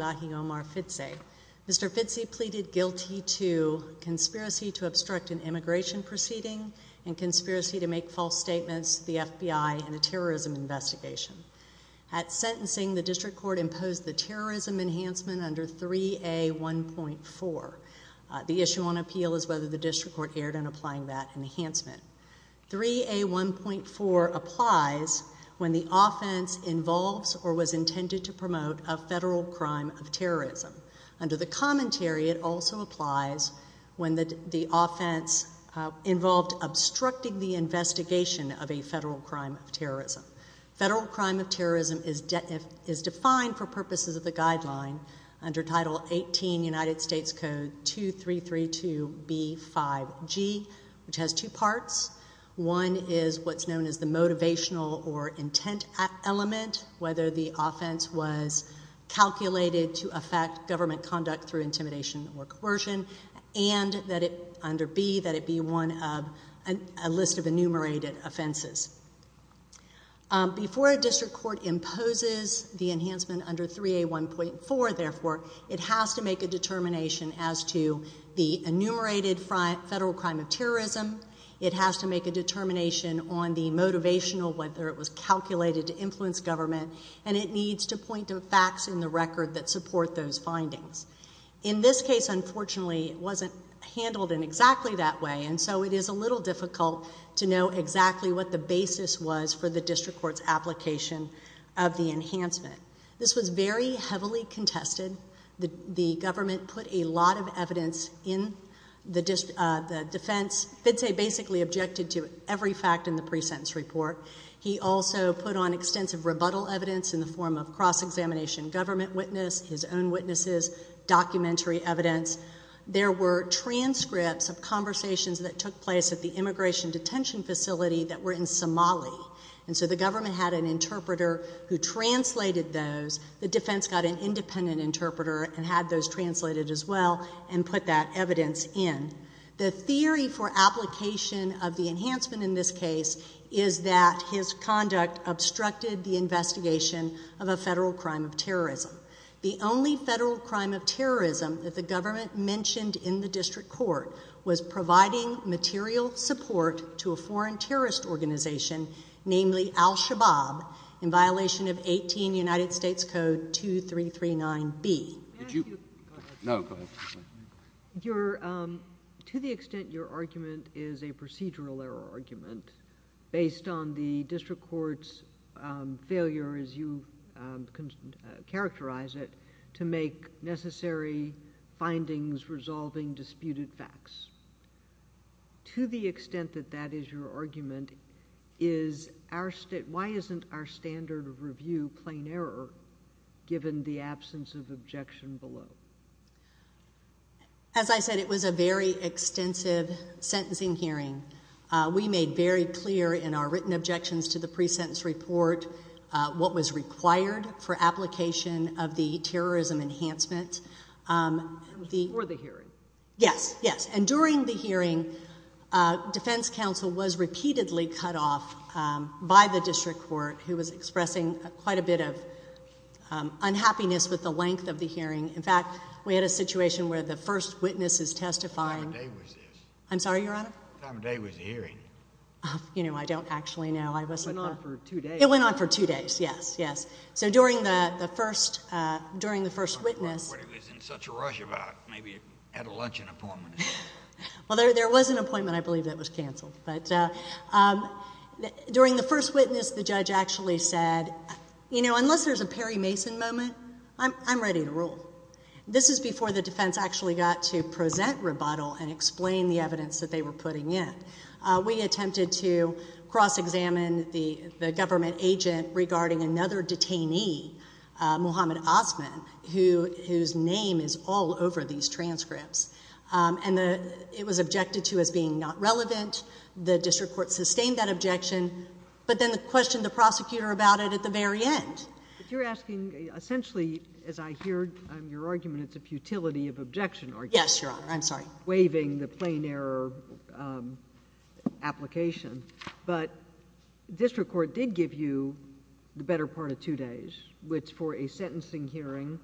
Mr. Fidse pleaded guilty to conspiracy to obstruct an immigration proceeding and conspiracy to make false statements to the FBI in a terrorism investigation. At sentencing, the District Court imposed the terrorism enhancement under 3A1.4. The issue on appeal is whether the District Court erred in applying that enhancement. 3A1.4 applies when the offense involves or was intended to promote a federal crime of terrorism. Under the commentary, it also applies when the offense involved obstructing the investigation of a federal crime of terrorism. Federal crime of terrorism is defined for purposes of the guideline under Title 18 United States Code 2332B5G, which has two parts. One is what's known as the motivational or intent element, whether the offense was calculated to affect government conduct through intimidation or coercion, and that it be one of a list of enumerated offenses. Before a District Court imposes the enhancement under 3A1.4, therefore, it has to make a determination as to the enumerated federal crime of terrorism. It has to make a determination on the motivational, whether it was calculated to influence government, and it needs to point to facts in the record that support those findings. In this case, unfortunately, it wasn't handled in exactly that way, and so it is a little difficult to know exactly what the basis was for the District Court's application of the enhancement. This was very heavily contested. The government put a lot of evidence in the defense. Fidze basically objected to every fact in the pre-sentence report. He also put on extensive rebuttal evidence in the form of cross-examination government witness, his own witnesses, documentary evidence. There were transcripts of conversations that took place at the immigration detention facility that were in Somali, and so the government had an interpreter who translated those. The defense got an independent interpreter and had those translated as well and put that evidence in. The theory for application of the enhancement in this case is that his conduct obstructed the investigation of a federal crime of terrorism. The only federal crime of terrorism that the government mentioned in the District Court was providing material support to a foreign terrorist organization, namely al-Shabaab, in violation of 18 United States Code 2339B. No, go ahead. To the extent your argument is a procedural error argument based on the District Court's failure, as you characterize it, to make necessary findings resolving disputed facts, to the extent that that is your argument, why isn't our standard of review plain error given the absence of objection below? As I said, it was a very extensive sentencing hearing. We made very clear in our written objections to the pre-sentence report what was required for application of the terrorism enhancement. It was before the hearing. Yes, yes. And during the hearing, defense counsel was repeatedly cut off by the District Court, who was expressing quite a bit of unhappiness with the length of the hearing. In fact, we had a situation where the first witness is testifying. What time of day was this? I'm sorry, Your Honor? What time of day was the hearing? You know, I don't actually know. It went on for two days. It went on for two days, yes, yes. So during the first witness— I don't know what he was in such a rush about. Maybe he had a luncheon appointment. Well, there was an appointment, I believe, that was canceled. But during the first witness, the judge actually said, you know, unless there's a Perry Mason moment, I'm ready to rule. This is before the defense actually got to present rebuttal and explain the evidence that they were putting in. We attempted to cross-examine the government agent regarding another detainee, Muhammad Osman, whose name is all over these transcripts. And it was objected to as being not relevant. The District Court sustained that objection, but then questioned the prosecutor about it at the very end. But you're asking—essentially, as I hear your argument, it's a futility of objection argument. Yes, Your Honor. I'm sorry. I'm not waiving the plain error application, but District Court did give you the better part of two days, which for a sentencing hearing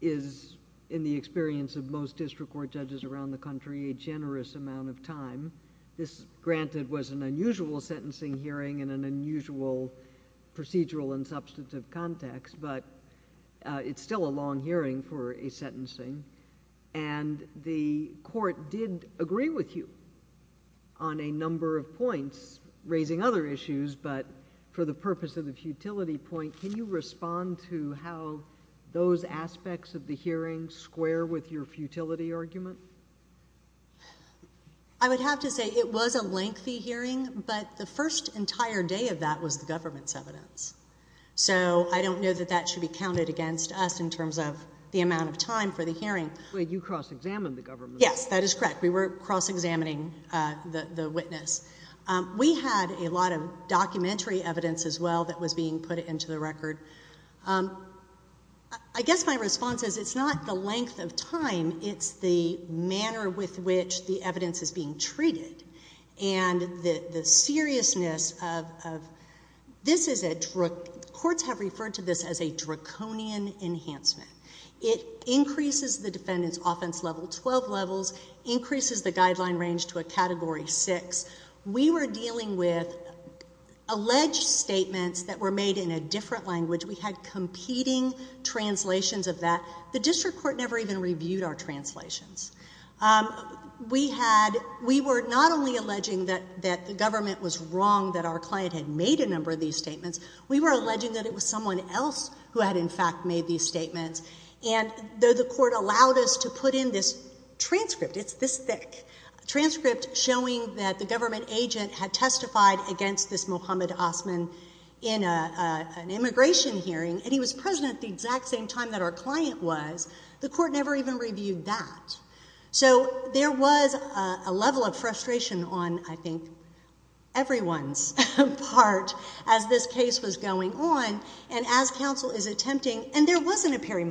is, in the experience of most District Court judges around the country, a generous amount of time. This, granted, was an unusual sentencing hearing in an unusual procedural and substantive context, but it's still a long hearing for a sentencing. And the Court did agree with you on a number of points, raising other issues, but for the purpose of the futility point, can you respond to how those aspects of the hearing square with your futility argument? I would have to say it was a lengthy hearing, but the first entire day of that was the government's evidence. So I don't know that that should be counted against us in terms of the amount of time for the hearing. Wait, you cross-examined the government. Yes, that is correct. We were cross-examining the witness. We had a lot of documentary evidence as well that was being put into the record. I guess my response is it's not the length of time. It's the manner with which the evidence is being treated and the seriousness of this is a drug. Courts have referred to this as a draconian enhancement. It increases the defendant's offense level 12 levels, increases the guideline range to a Category 6. We were dealing with alleged statements that were made in a different language. We had competing translations of that. The district court never even reviewed our translations. We were not only alleging that the government was wrong, that our client had made a number of these statements. We were alleging that it was someone else who had, in fact, made these statements. And though the court allowed us to put in this transcript, it's this thick, a transcript showing that the government agent had testified against this Mohammed Osman in an immigration hearing, and he was present at the exact same time that our client was. The court never even reviewed that. So there was a level of frustration on, I think, everyone's part as this case was going on, and as counsel is attempting, and there wasn't a Perry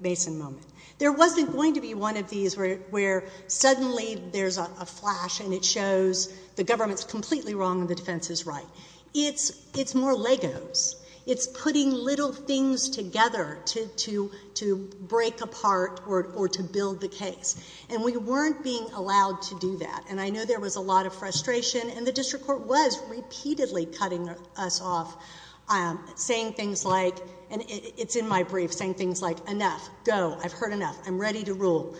Mason moment. There wasn't going to be one of these where suddenly there's a flash and it shows the government's completely wrong and the defense is right. It's more Legos. It's putting little things together to break apart or to build the case. And we weren't being allowed to do that, and I know there was a lot of frustration, and the district court was repeatedly cutting us off, saying things like, and it's in my brief, saying things like, enough, go, I've heard enough, I'm ready to rule.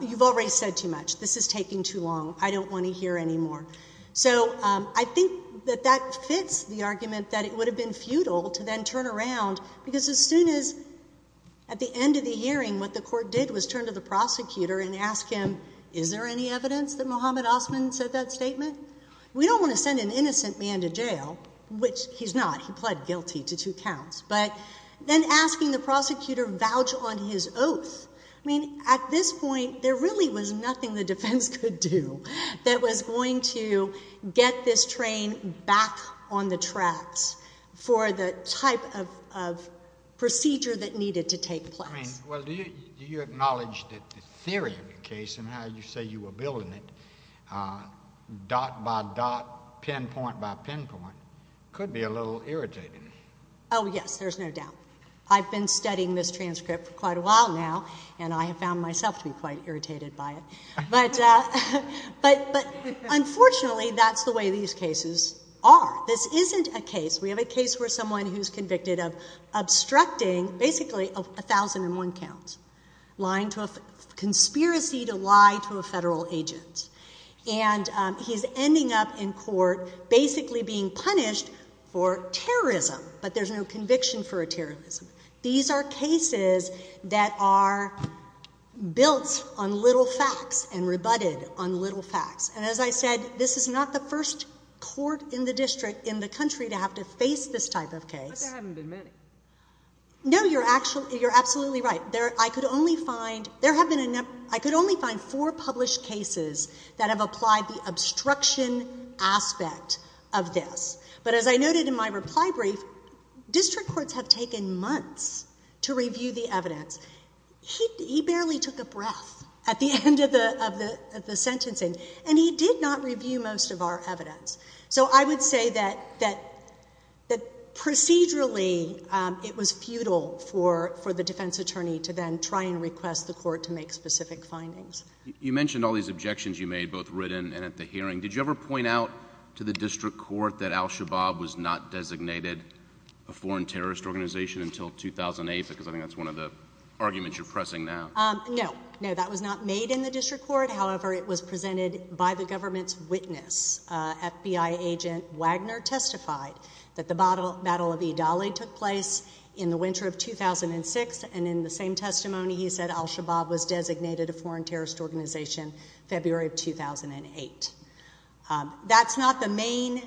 You've already said too much. This is taking too long. I don't want to hear anymore. So I think that that fits the argument that it would have been futile to then turn around, because as soon as at the end of the hearing what the court did was turn to the prosecutor and ask him, is there any evidence that Mohammed Osman said that statement? We don't want to send an innocent man to jail, which he's not. He pled guilty to two counts. But then asking the prosecutor, vouch on his oath. I mean, at this point there really was nothing the defense could do that was going to get this train back on the tracks for the type of procedure that needed to take place. Well, do you acknowledge that the theory of the case and how you say you were building it, dot by dot, pinpoint by pinpoint, could be a little irritating? Oh, yes, there's no doubt. I've been studying this transcript for quite a while now, and I have found myself to be quite irritated by it. But unfortunately that's the way these cases are. This isn't a case. We have a case where someone who's convicted of obstructing basically 1,001 counts, lying to a conspiracy to lie to a federal agent, and he's ending up in court basically being punished for terrorism, but there's no conviction for a terrorism. These are cases that are built on little facts and rebutted on little facts. And as I said, this is not the first court in the district in the country to have to face this type of case. But there haven't been many. No, you're absolutely right. I could only find four published cases that have applied the obstruction aspect of this. But as I noted in my reply brief, district courts have taken months to review the evidence. He barely took a breath at the end of the sentencing, and he did not review most of our evidence. So I would say that procedurally it was futile for the defense attorney to then try and request the court to make specific findings. You mentioned all these objections you made both written and at the hearing. Did you ever point out to the district court that al-Shabaab was not designated a foreign terrorist organization until 2008? Because I think that's one of the arguments you're pressing now. No, no, that was not made in the district court. However, it was presented by the government's witness. FBI agent Wagner testified that the Battle of Idali took place in the winter of 2006, and in the same testimony he said al-Shabaab was designated a foreign terrorist organization February of 2008. That's not the main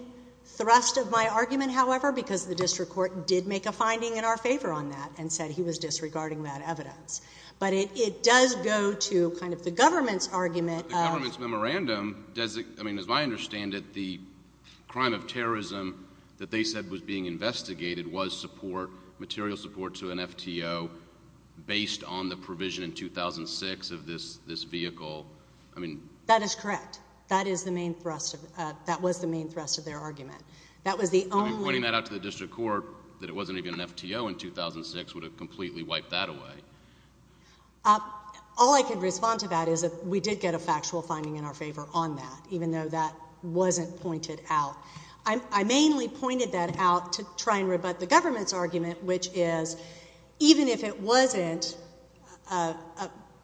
thrust of my argument, however, because the district court did make a finding in our favor on that and said he was disregarding that evidence. But it does go to kind of the government's argument. But the government's memorandum, as I understand it, the crime of terrorism that they said was being investigated was support, material support to an FTO based on the provision in 2006 of this vehicle. That is correct. That was the main thrust of their argument. Pointing that out to the district court that it wasn't even an FTO in 2006 would have completely wiped that away. All I can respond to that is that we did get a factual finding in our favor on that, even though that wasn't pointed out. I mainly pointed that out to try and rebut the government's argument, which is even if it wasn't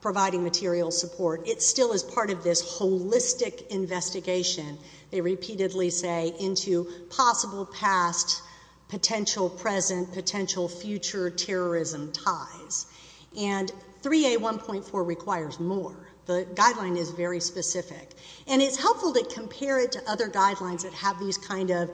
providing material support, it still is part of this holistic investigation, they repeatedly say, into possible past, potential present, potential future terrorism ties. And 3A1.4 requires more. The guideline is very specific. And it's helpful to compare it to other guidelines that have these kind of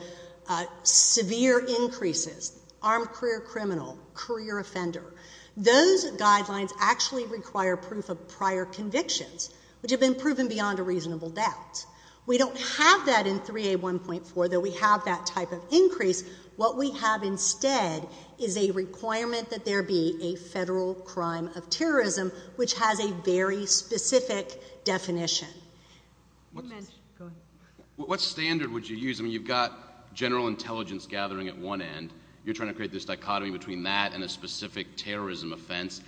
severe increases. Armed career criminal, career offender. Those guidelines actually require proof of prior convictions, which have been proven beyond a reasonable doubt. We don't have that in 3A1.4, that we have that type of increase. What we have instead is a requirement that there be a federal crime of terrorism, which has a very specific definition. What standard would you use? I mean, you've got general intelligence gathering at one end. You're trying to create this dichotomy between that and a specific terrorism offense.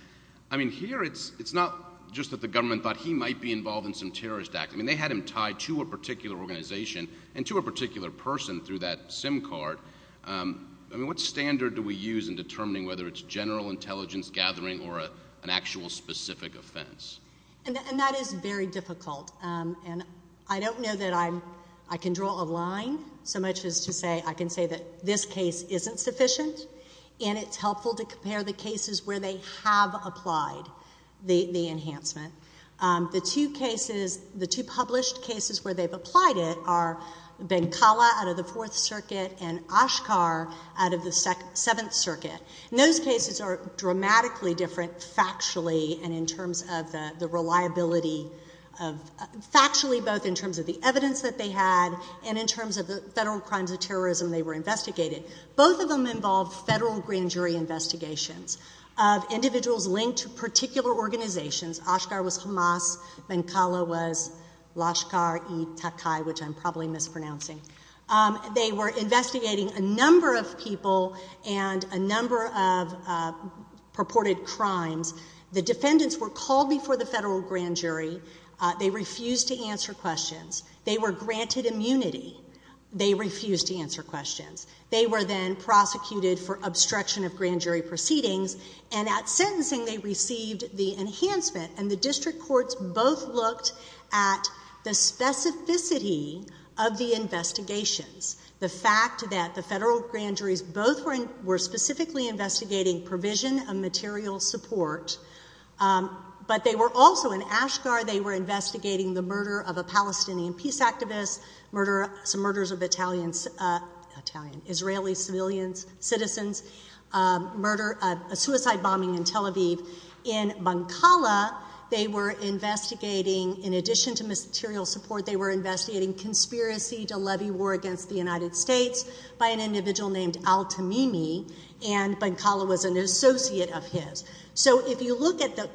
I mean, here it's not just that the government thought he might be involved in some terrorist act. I mean, they had him tied to a particular organization and to a particular person through that SIM card. I mean, what standard do we use in determining whether it's general intelligence gathering or an actual specific offense? And that is very difficult. And I don't know that I can draw a line so much as to say I can say that this case isn't sufficient, and it's helpful to compare the cases where they have applied the enhancement. The two cases, the two published cases where they've applied it are Benkala out of the Fourth Circuit and Oshkar out of the Seventh Circuit. And those cases are dramatically different factually and in terms of the reliability of, factually both in terms of the evidence that they had and in terms of the federal crimes of terrorism they were investigating. Both of them involved federal grand jury investigations of individuals linked to particular organizations. Oshkar was Hamas. Benkala was Lashkar-e-Takai, which I'm probably mispronouncing. They were investigating a number of people and a number of purported crimes. The defendants were called before the federal grand jury. They refused to answer questions. They were granted immunity. They refused to answer questions. They were then prosecuted for obstruction of grand jury proceedings, and at sentencing they received the enhancement, and the district courts both looked at the specificity of the investigations. The fact that the federal grand juries both were specifically investigating provision of material support, but they were also in Oshkar they were investigating the murder of a Palestinian peace activist, some murders of Israeli civilians, citizens, a suicide bombing in Tel Aviv. In Benkala they were investigating, in addition to material support, they were investigating conspiracy to levy war against the United States by an individual named Al-Tamimi, and Benkala was an associate of his. So if you look at the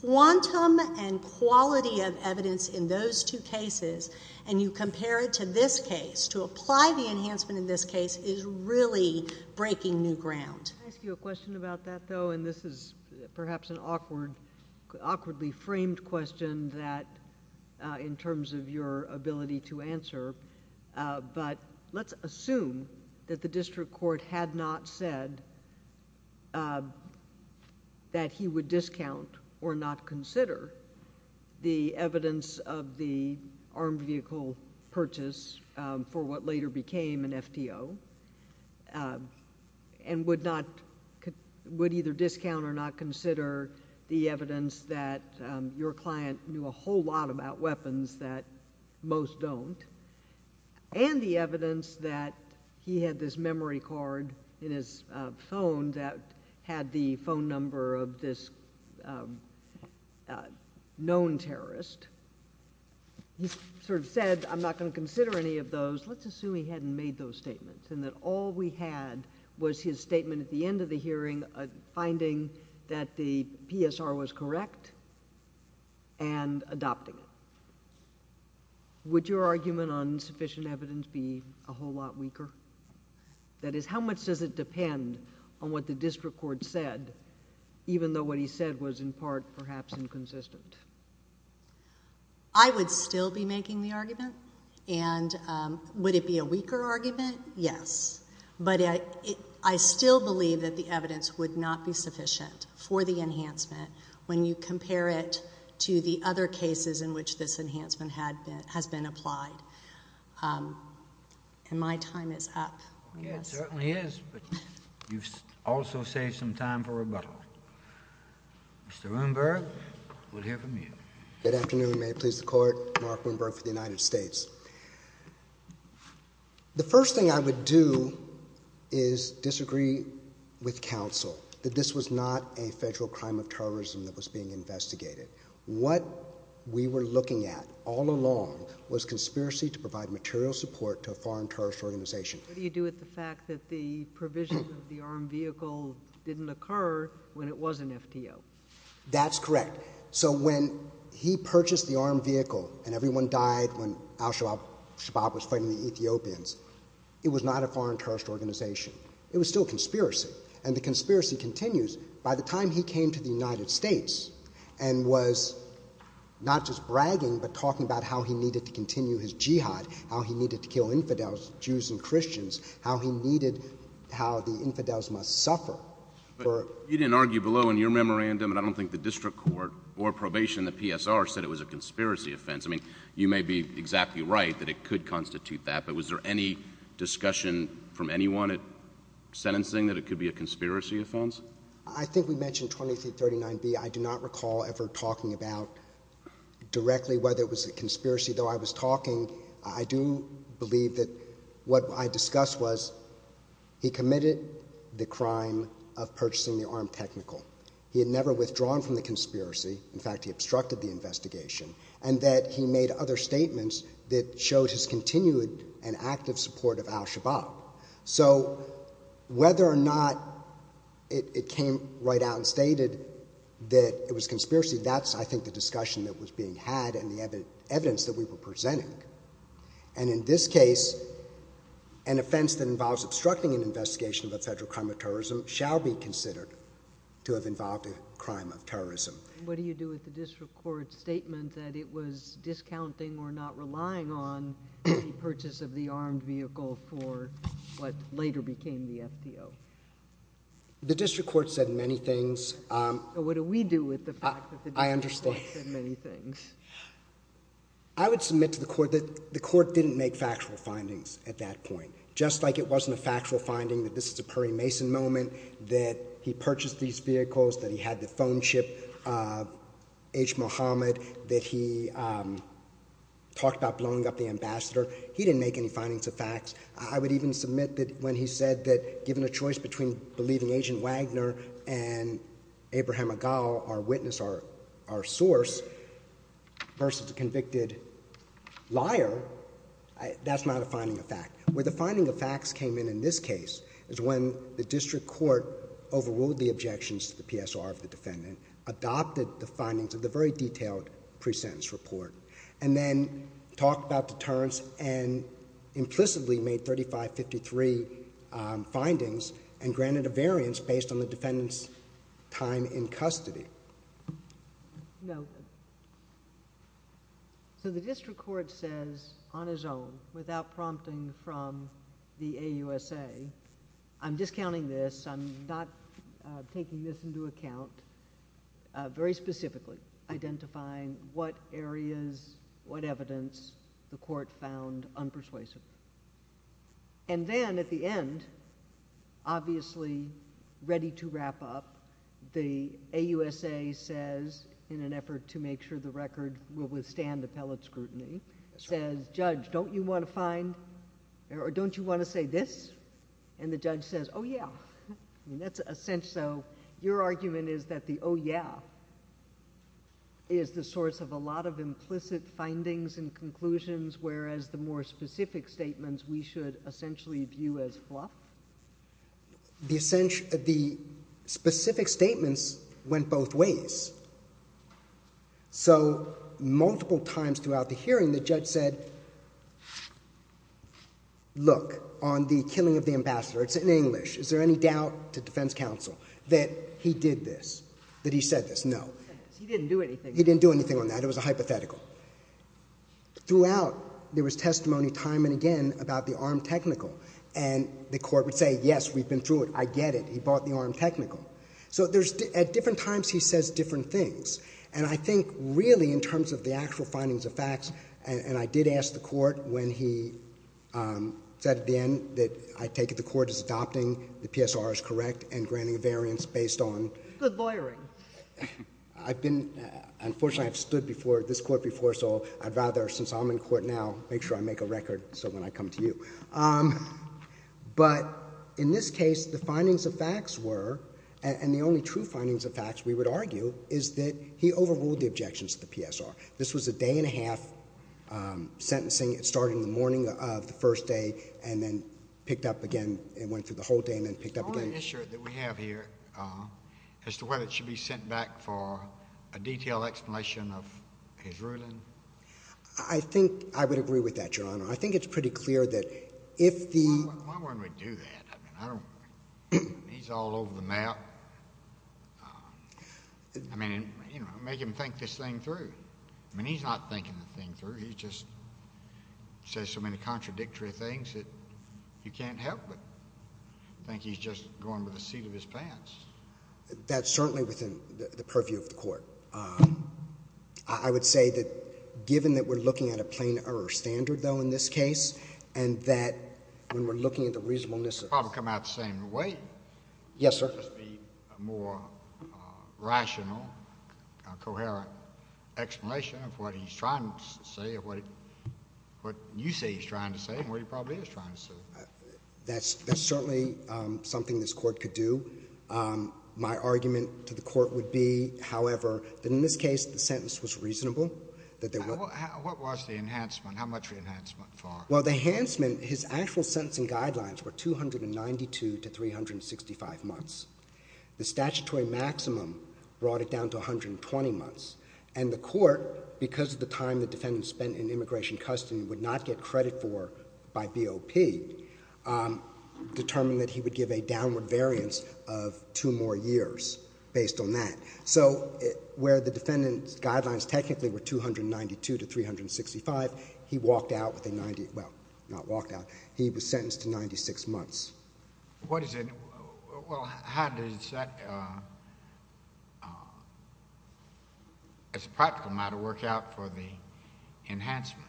quantum and quality of evidence in those two cases, and you compare it to this case, to apply the enhancement in this case is really breaking new ground. Can I ask you a question about that, though? And this is perhaps an awkwardly framed question in terms of your ability to answer, but let's assume that the district court had not said that he would discount or not consider the evidence of the armed vehicle purchase for what later became an FTO, and would either discount or not consider the evidence that your client knew a whole lot about weapons that most don't. And the evidence that he had this memory card in his phone that had the phone number of this known terrorist. He sort of said, I'm not going to consider any of those. Let's assume he hadn't made those statements, and that all we had was his statement at the end of the hearing finding that the PSR was correct and adopting it. Would your argument on sufficient evidence be a whole lot weaker? That is, how much does it depend on what the district court said, even though what he said was in part perhaps inconsistent? I would still be making the argument. And would it be a weaker argument? Yes. But I still believe that the evidence would not be sufficient for the enhancement when you compare it to the other cases in which this enhancement has been applied. And my time is up. It certainly is, but you've also saved some time for rebuttal. Mr. Bloomberg, we'll hear from you. Good afternoon. May it please the Court. Mark Bloomberg for the United States. The first thing I would do is disagree with counsel that this was not a federal crime of terrorism that was being investigated. What we were looking at all along was conspiracy to provide material support to a foreign terrorist organization. What do you do with the fact that the provision of the armed vehicle didn't occur when it was an FTO? That's correct. So when he purchased the armed vehicle and everyone died when al-Shabaab was fighting the Ethiopians, it was not a foreign terrorist organization. It was still a conspiracy. And the conspiracy continues. By the time he came to the United States and was not just bragging but talking about how he needed to continue his jihad, how he needed to kill infidels, Jews and Christians, how he needed how the infidels must suffer. You didn't argue below in your memorandum, and I don't think the district court or probation, the PSR said it was a conspiracy offense. I mean, you may be exactly right that it could constitute that. But was there any discussion from anyone at sentencing that it could be a conspiracy offense? I think we mentioned 2339B. I do not recall ever talking about directly whether it was a conspiracy. Though I was talking, I do believe that what I discussed was he committed the crime of purchasing the armed technical. He had never withdrawn from the conspiracy. In fact, he obstructed the investigation. And that he made other statements that showed his continued and active support of al-Shabaab. So whether or not it came right out and stated that it was conspiracy, that's, I think, the discussion that was being had and the evidence that we were presenting. And in this case, an offense that involves obstructing an investigation of a federal crime of terrorism shall be considered to have involved a crime of terrorism. What do you do with the district court's statement that it was discounting or not relying on the purchase of the armed vehicle for what later became the FTO? The district court said many things. What do we do with the fact that the district court said many things? I understand. I would submit to the court that the court didn't make factual findings at that point. Just like it wasn't a factual finding that this is a Perry Mason moment, that he purchased these vehicles, that he had the phone chip of H. Muhammad, that he talked about blowing up the ambassador. He didn't make any findings of facts. I would even submit that when he said that given a choice between believing Agent Wagner and Abraham Agal, our witness, our source, versus the convicted liar, that's not a finding of fact. Where the finding of facts came in in this case is when the district court overruled the objections to the PSR of the defendant, adopted the findings of the very detailed pre-sentence report, and then talked about deterrence and implicitly made 3553 findings and granted a variance based on the defendant's time in custody. No. So the district court says on its own, without prompting from the AUSA, I'm discounting this, I'm not taking this into account, very specifically identifying what areas, what evidence the court found unpersuasive. And then at the end, obviously ready to wrap up, the AUSA says, in an effort to make sure the record will withstand appellate scrutiny, says, Judge, don't you want to find, or don't you want to say this? And the judge says, oh yeah. That's a sense, so your argument is that the oh yeah is the source of a lot of implicit findings and conclusions, whereas the more specific statements we should essentially view as fluff? The specific statements went both ways. So multiple times throughout the hearing the judge said, look, on the killing of the ambassador, it's in English, is there any doubt to defense counsel that he did this, that he said this? No. He didn't do anything. He didn't do anything on that. It was a hypothetical. Throughout, there was testimony time and again about the armed technical. And the court would say, yes, we've been through it. I get it. He bought the armed technical. So there's, at different times he says different things. And I think really in terms of the actual findings of facts, and I did ask the court when he said at the end that I take it the court is adopting the PSR as correct and granting a variance based on. Good lawyering. I've been, unfortunately I've stood before this court before, so I'd rather since I'm in court now make sure I make a record so when I come to you. But in this case, the findings of facts were, and the only true findings of facts we would argue is that he overruled the objections to the PSR. This was a day and a half sentencing. It started in the morning of the first day and then picked up again. It went through the whole day and then picked up again. Is there an issue that we have here as to whether it should be sent back for a detailed explanation of his ruling? I think I would agree with that, Your Honor. I think it's pretty clear that if the... Why wouldn't we do that? I mean, he's all over the map. I mean, make him think this thing through. I mean, he's not thinking the thing through. He just says so many contradictory things that you can't help but think he's just going with the seat of his pants. That's certainly within the purview of the court. I would say that given that we're looking at a plain error standard, though, in this case, and that when we're looking at the reasonableness of... It would probably come out the same way. Yes, sir. Could there just be a more rational, coherent explanation of what he's trying to say or what you say he's trying to say and what he probably is trying to say? That's certainly something this court could do. My argument to the court would be, however, that in this case the sentence was reasonable, that there was... What was the enhancement? How much of the enhancement for? Well, the enhancement, his actual sentencing guidelines were 292 to 365 months. The statutory maximum brought it down to 120 months. And the court, because of the time the defendant spent in immigration custody would not get credit for by BOP, determined that he would give a downward variance of two more years based on that. So where the defendant's guidelines technically were 292 to 365, he walked out with a 90... Well, not walked out. He was sentenced to 96 months. What is it? Well, how does that, as a practical matter, work out for the enhancement?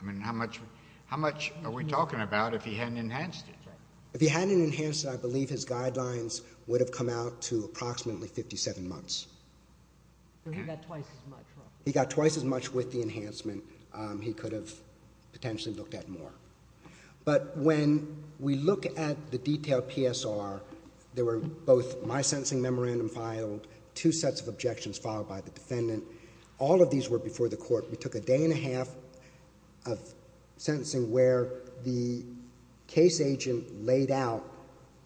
I mean, how much are we talking about if he hadn't enhanced it? If he hadn't enhanced it, I believe his guidelines would have come out to approximately 57 months. So he got twice as much. He got twice as much with the enhancement. He could have potentially looked at more. But when we look at the detailed PSR, there were both my sentencing memorandum filed, two sets of objections filed by the defendant. All of these were before the court. We took a day and a half of sentencing where the case agent laid out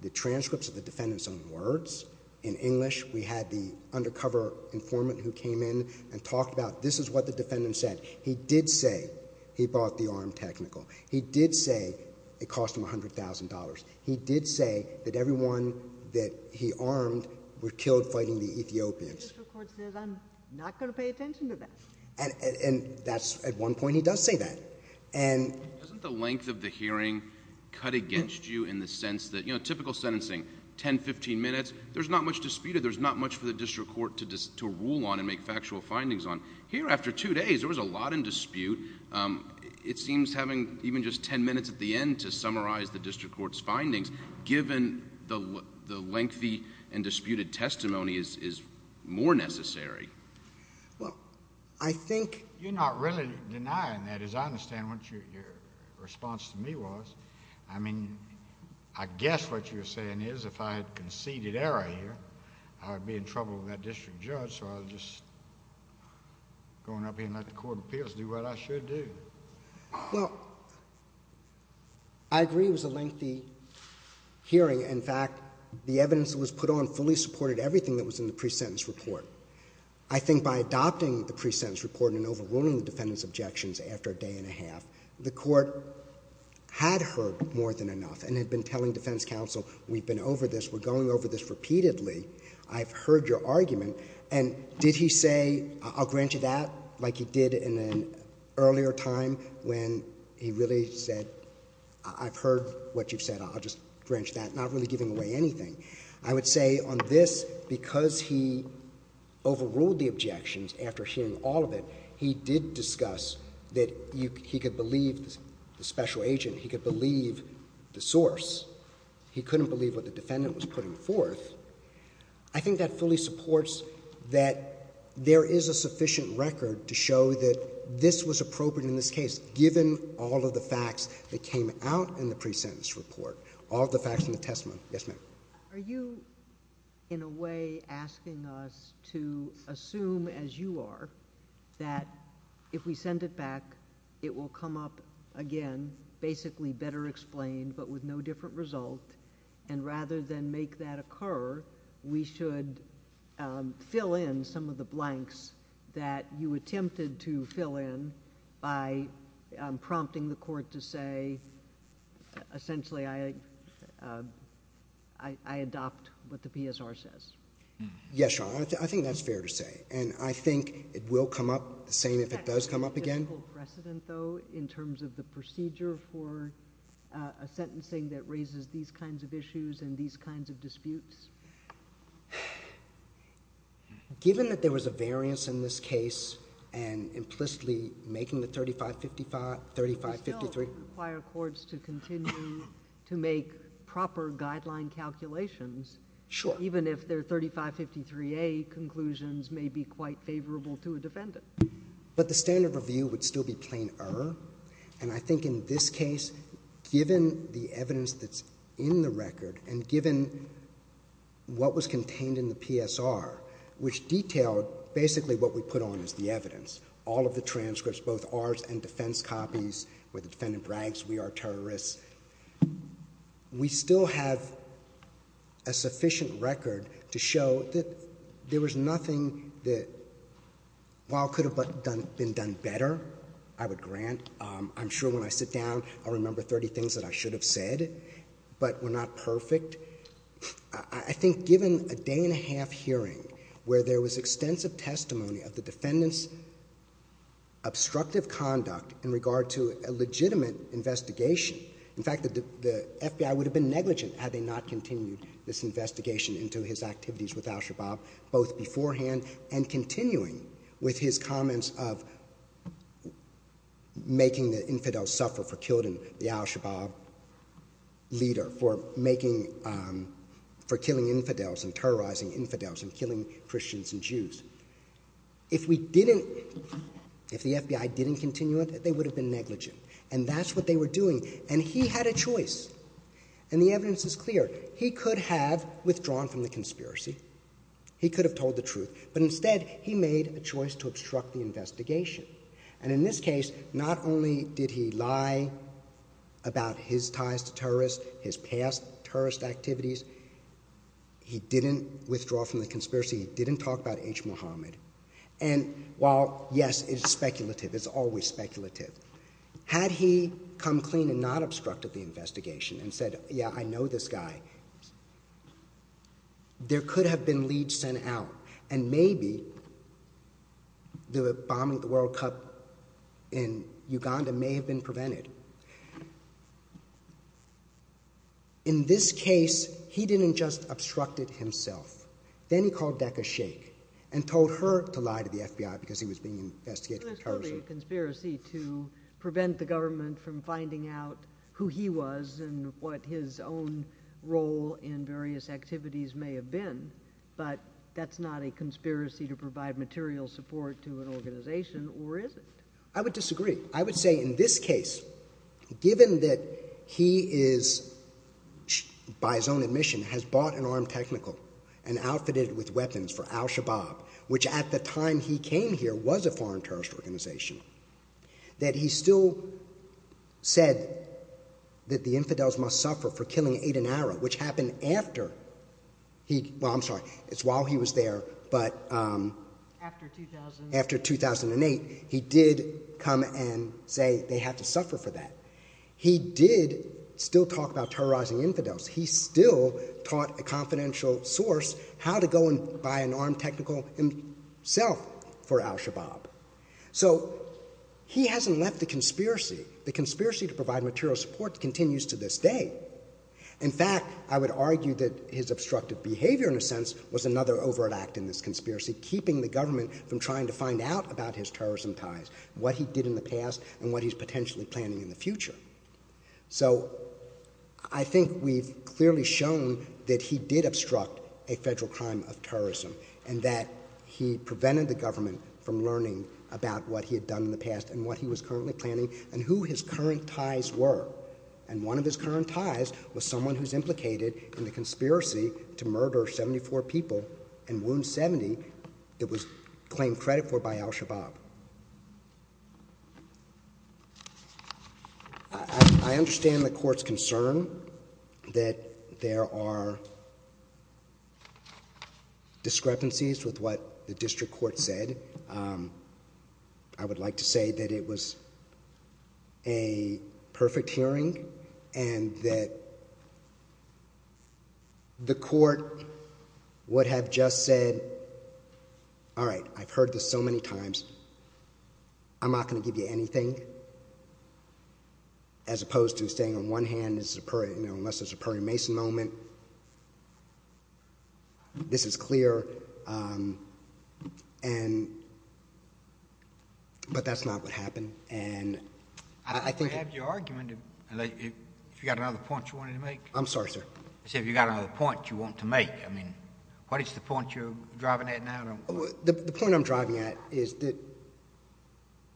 the transcripts of the defendant's own words in English. We had the undercover informant who came in and talked about, this is what the defendant said. He did say he bought the arm technical. He did say it cost him $100,000. He did say that everyone that he armed were killed fighting the Ethiopians. The district court says, I'm not going to pay attention to that. And at one point, he does say that. Doesn't the length of the hearing cut against you in the sense that typical sentencing, 10, 15 minutes, there's not much disputed. There's not much for the district court to rule on and make factual findings on. Here, after two days, there was a lot in dispute. It seems having even just 10 minutes at the end to summarize the district court's findings, given the lengthy and disputed testimony, is more necessary. Well, I think... You're not really denying that, as I understand what your response to me was. I mean, I guess what you're saying is if I had conceded error here, I would be in trouble with that district judge, so I'll just go on up here and let the court of appeals do what I should do. Well, I agree it was a lengthy hearing. In fact, the evidence that was put on fully supported everything that was in the pre-sentence report. I think by adopting the pre-sentence report and overruling the defendant's objections after a day and a half, the court had heard more than enough and had been telling defense counsel, we've been over this, we're going over this repeatedly, I've heard your argument. And did he say, I'll grant you that, like he did in an earlier time when he really said, I've heard what you've said, I'll just grant you that, not really giving away anything. I would say on this, because he overruled the objections after hearing all of it, he did discuss that he could believe the special agent, he could believe the source. He couldn't believe what the defendant was putting forth. I think that fully supports that there is a sufficient record to show that this was appropriate in this case, given all of the facts that came out in the pre-sentence report, all the facts in the testimony. Yes, ma'am. Are you, in a way, asking us to assume, as you are, that if we send it back, it will come up again, basically better explained, but with no different result, and rather than make that occur, we should fill in some of the blanks that you attempted to fill in by prompting the court to say, essentially, I adopt what the PSR says. Yes, Your Honor. I think that's fair to say, and I think it will come up the same if it does come up again. Is there a technical precedent, though, in terms of the procedure for a sentencing that raises these kinds of issues and these kinds of disputes? Given that there was a variance in this case, and implicitly making the 3555, 3553... We still require courts to continue to make proper guideline calculations. Sure. Even if their 3553A conclusions may be quite favorable to a defendant. But the standard review would still be plain error, and I think in this case, given the evidence that's in the record, and given what was contained in the PSR, which detailed basically what we put on as the evidence, all of the transcripts, both ours and defense copies, where the defendant brags, we are terrorists. We still have a sufficient record to show that there was nothing that, while it could have been done better, I would grant. I'm sure when I sit down, I'll remember 30 things that I should have said, but were not perfect. I think given a day and a half hearing, where there was extensive testimony of the defendant's obstructive conduct in regard to a legitimate investigation... In fact, the FBI would have been negligent had they not continued this investigation into his activities with al-Shabaab, both beforehand and continuing with his comments of making the infidels suffer for killing the al-Shabaab leader, for killing infidels and terrorizing infidels and killing Christians and Jews. If we didn't... if the FBI didn't continue it, they would have been negligent. And that's what they were doing. And he had a choice. And the evidence is clear. He could have withdrawn from the conspiracy. He could have told the truth. But instead, he made a choice to obstruct the investigation. And in this case, not only did he lie about his ties to terrorists, his past terrorist activities, he didn't withdraw from the conspiracy. He didn't talk about H. Muhammad. And while, yes, it's speculative, it's always speculative, had he come clean and not obstructed the investigation and said, yeah, I know this guy, there could have been leads sent out. And maybe the bombing of the World Cup in Uganda may have been prevented. In this case, he didn't just obstruct it himself. Then he called Dekha Shaikh and told her to lie to the FBI because he was being investigated for terrorism. So there's clearly a conspiracy to prevent the government from finding out who he was and what his own role in various activities may have been. But that's not a conspiracy to provide material support to an organization, or is it? I would disagree. I would say in this case, given that he is, by his own admission, has bought an armed technical and outfitted it with weapons for al-Shabaab, which at the time he came here was a foreign terrorist organization, that he still said that the infidels must suffer for killing Aden Ara, which happened after, well, I'm sorry, it's while he was there, but after 2008, he did come and say they have to suffer for that. He did still talk about terrorizing infidels. He still taught a confidential source how to go and buy an armed technical himself for al-Shabaab. So he hasn't left the conspiracy. The conspiracy to provide material support continues to this day. In fact, I would argue that his obstructive behavior, in a sense, was another overt act in this conspiracy, keeping the government from trying to find out about his terrorism ties, what he did in the past, and what he's potentially planning in the future. So I think we've clearly shown that he did obstruct a federal crime of terrorism and that he prevented the government from learning about what he had done in the past and what he was currently planning and who his current ties were. And one of his current ties was someone who's implicated in the conspiracy to murder 74 people and wound 70 that was claimed credit for by al-Shabaab. I understand the court's concern that there are discrepancies with what the district court said. I would like to say that it was a perfect hearing and that the court would have just said, all right, I've heard this so many times, I'm not going to give you anything, as opposed to saying on one hand, unless it's a Perry Mason moment, this is clear. But that's not what happened. I think we have your argument. If you've got another point you wanted to make. I'm sorry, sir. I said if you've got another point you want to make. I mean, what is the point you're driving at now? The point I'm driving at is that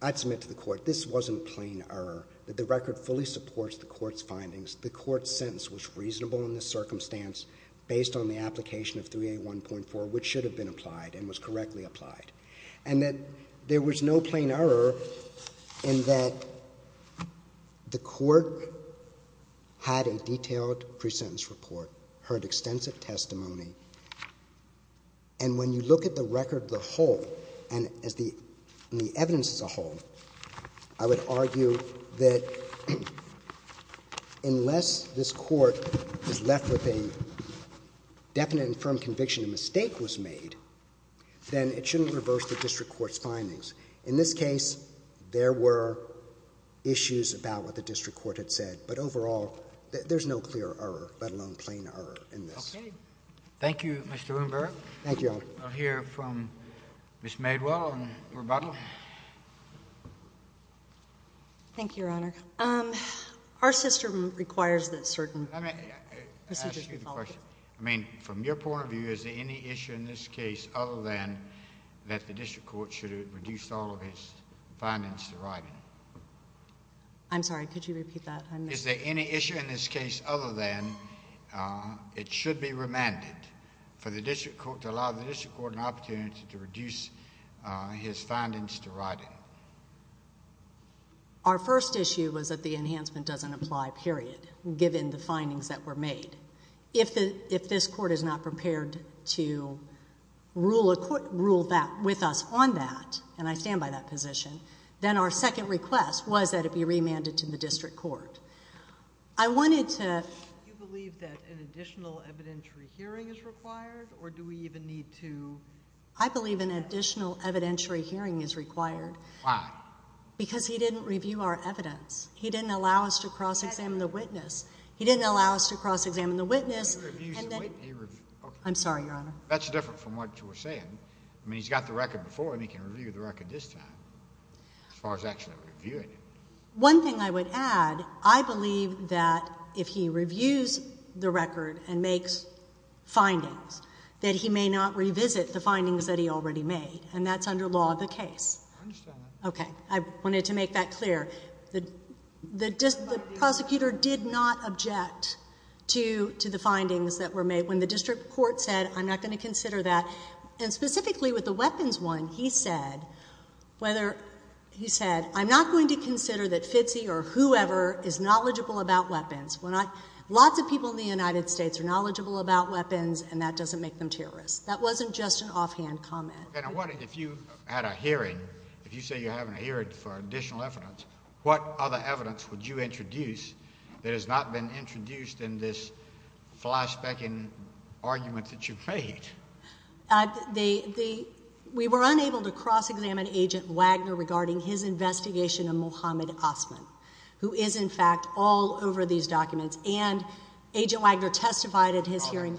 I'd submit to the court this wasn't plain error, that the record fully supports the court's findings. The court's sentence was reasonable in this circumstance based on the application of 3A1.4, which should have been applied and was correctly applied. And that there was no plain error in that the court had a detailed pre-sentence report, heard extensive testimony, and when you look at the record as a whole, and the evidence as a whole, I would argue that unless this Court is left with a definite and firm conviction a mistake was made, then it shouldn't reverse the district court's findings. In this case, there were issues about what the district court had said. But overall, there's no clear error, let alone plain error in this. Okay. Thank you, Your Honor. I'll hear from Ms. Madewell on rebuttal. Thank you, Your Honor. Our system requires that certain procedures be followed. Let me ask you the question. I mean, from your point of view, is there any issue in this case other than that the district court should have reduced all of its findings to writing? I'm sorry. Could you repeat that? Is there any issue in this case other than it should be remanded for the district court to allow the district court an opportunity to reduce his findings to writing? Our first issue was that the enhancement doesn't apply, period, given the findings that were made. If this Court is not prepared to rule with us on that, and I stand by that position, then our second request was that it be remanded to the district court. I wanted to— Do you believe that an additional evidentiary hearing is required, or do we even need to— I believe an additional evidentiary hearing is required. Why? Because he didn't review our evidence. He didn't allow us to cross-examine the witness. He didn't allow us to cross-examine the witness, and then— I'm sorry, Your Honor. That's different from what you were saying. I mean, he's got the record before, and he can review the record this time, as far as actually reviewing it. One thing I would add, I believe that if he reviews the record and makes findings, that he may not revisit the findings that he already made, and that's under law of the case. I understand that. Okay. I wanted to make that clear. The prosecutor did not object to the findings that were made when the district court said, I'm not going to consider that. And specifically with the weapons one, he said, whether—he said, I'm not going to consider that Fitzy or whoever is knowledgeable about weapons. Lots of people in the United States are knowledgeable about weapons, and that doesn't make them terrorists. That wasn't just an offhand comment. And I'm wondering, if you had a hearing, if you say you're having a hearing for additional evidence, what other evidence would you introduce that has not been introduced in this flyspecking argument that you've made? We were unable to cross-examine Agent Wagner regarding his investigation of Mohammed Osman, who is, in fact, all over these documents. And Agent Wagner testified at his hearing.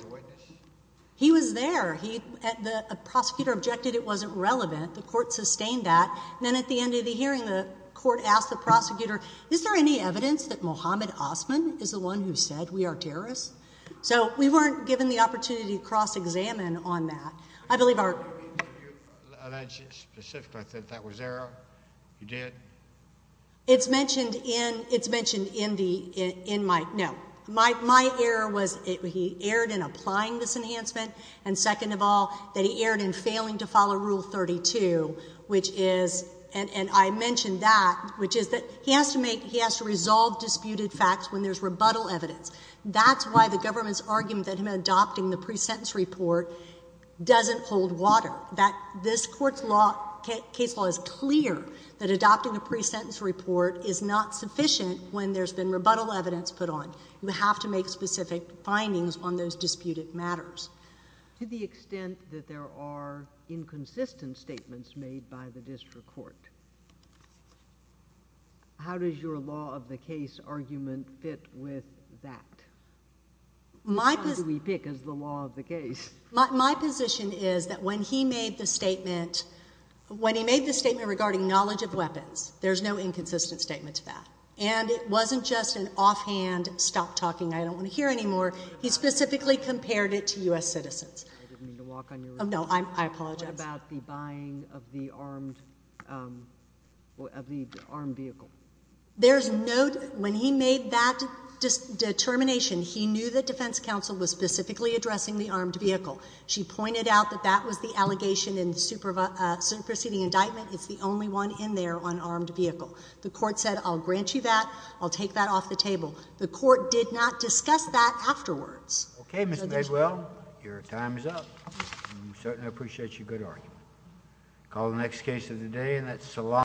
He was there. The prosecutor objected it wasn't relevant. The court sustained that. And then at the end of the hearing, the court asked the prosecutor, is there any evidence that Mohammed Osman is the one who said we are terrorists? So we weren't given the opportunity to cross-examine on that. I believe our— Did you allege specifically that that was error? You did? It's mentioned in—it's mentioned in my—no. My error was he erred in applying this enhancement. And second of all, that he erred in failing to follow Rule 32, which is—and I mentioned that, which is that he has to make—he has to resolve disputed facts when there's rebuttal evidence. That's why the government's argument that him adopting the pre-sentence report doesn't hold water, that this court's law—case law is clear that adopting a pre-sentence report is not sufficient when there's been rebuttal evidence put on. You have to make specific findings on those disputed matters. To the extent that there are inconsistent statements made by the district court, how does your law of the case argument fit with that? How do we pick as the law of the case? My position is that when he made the statement— when he made the statement regarding knowledge of weapons, there's no inconsistent statement to that. And it wasn't just an offhand stop talking I don't want to hear anymore. He specifically compared it to U.S. citizens. I didn't mean to walk on your— No, I apologize. What about the buying of the armed—of the armed vehicle? There's no—when he made that determination, he knew that defense counsel was specifically addressing the armed vehicle. She pointed out that that was the allegation in the superseding indictment. It's the only one in there on armed vehicle. The court said, I'll grant you that. I'll take that off the table. The court did not discuss that afterwards. Okay, Ms. Mayswell, your time is up. I certainly appreciate your good argument. Call the next case of the day, and that's Solano.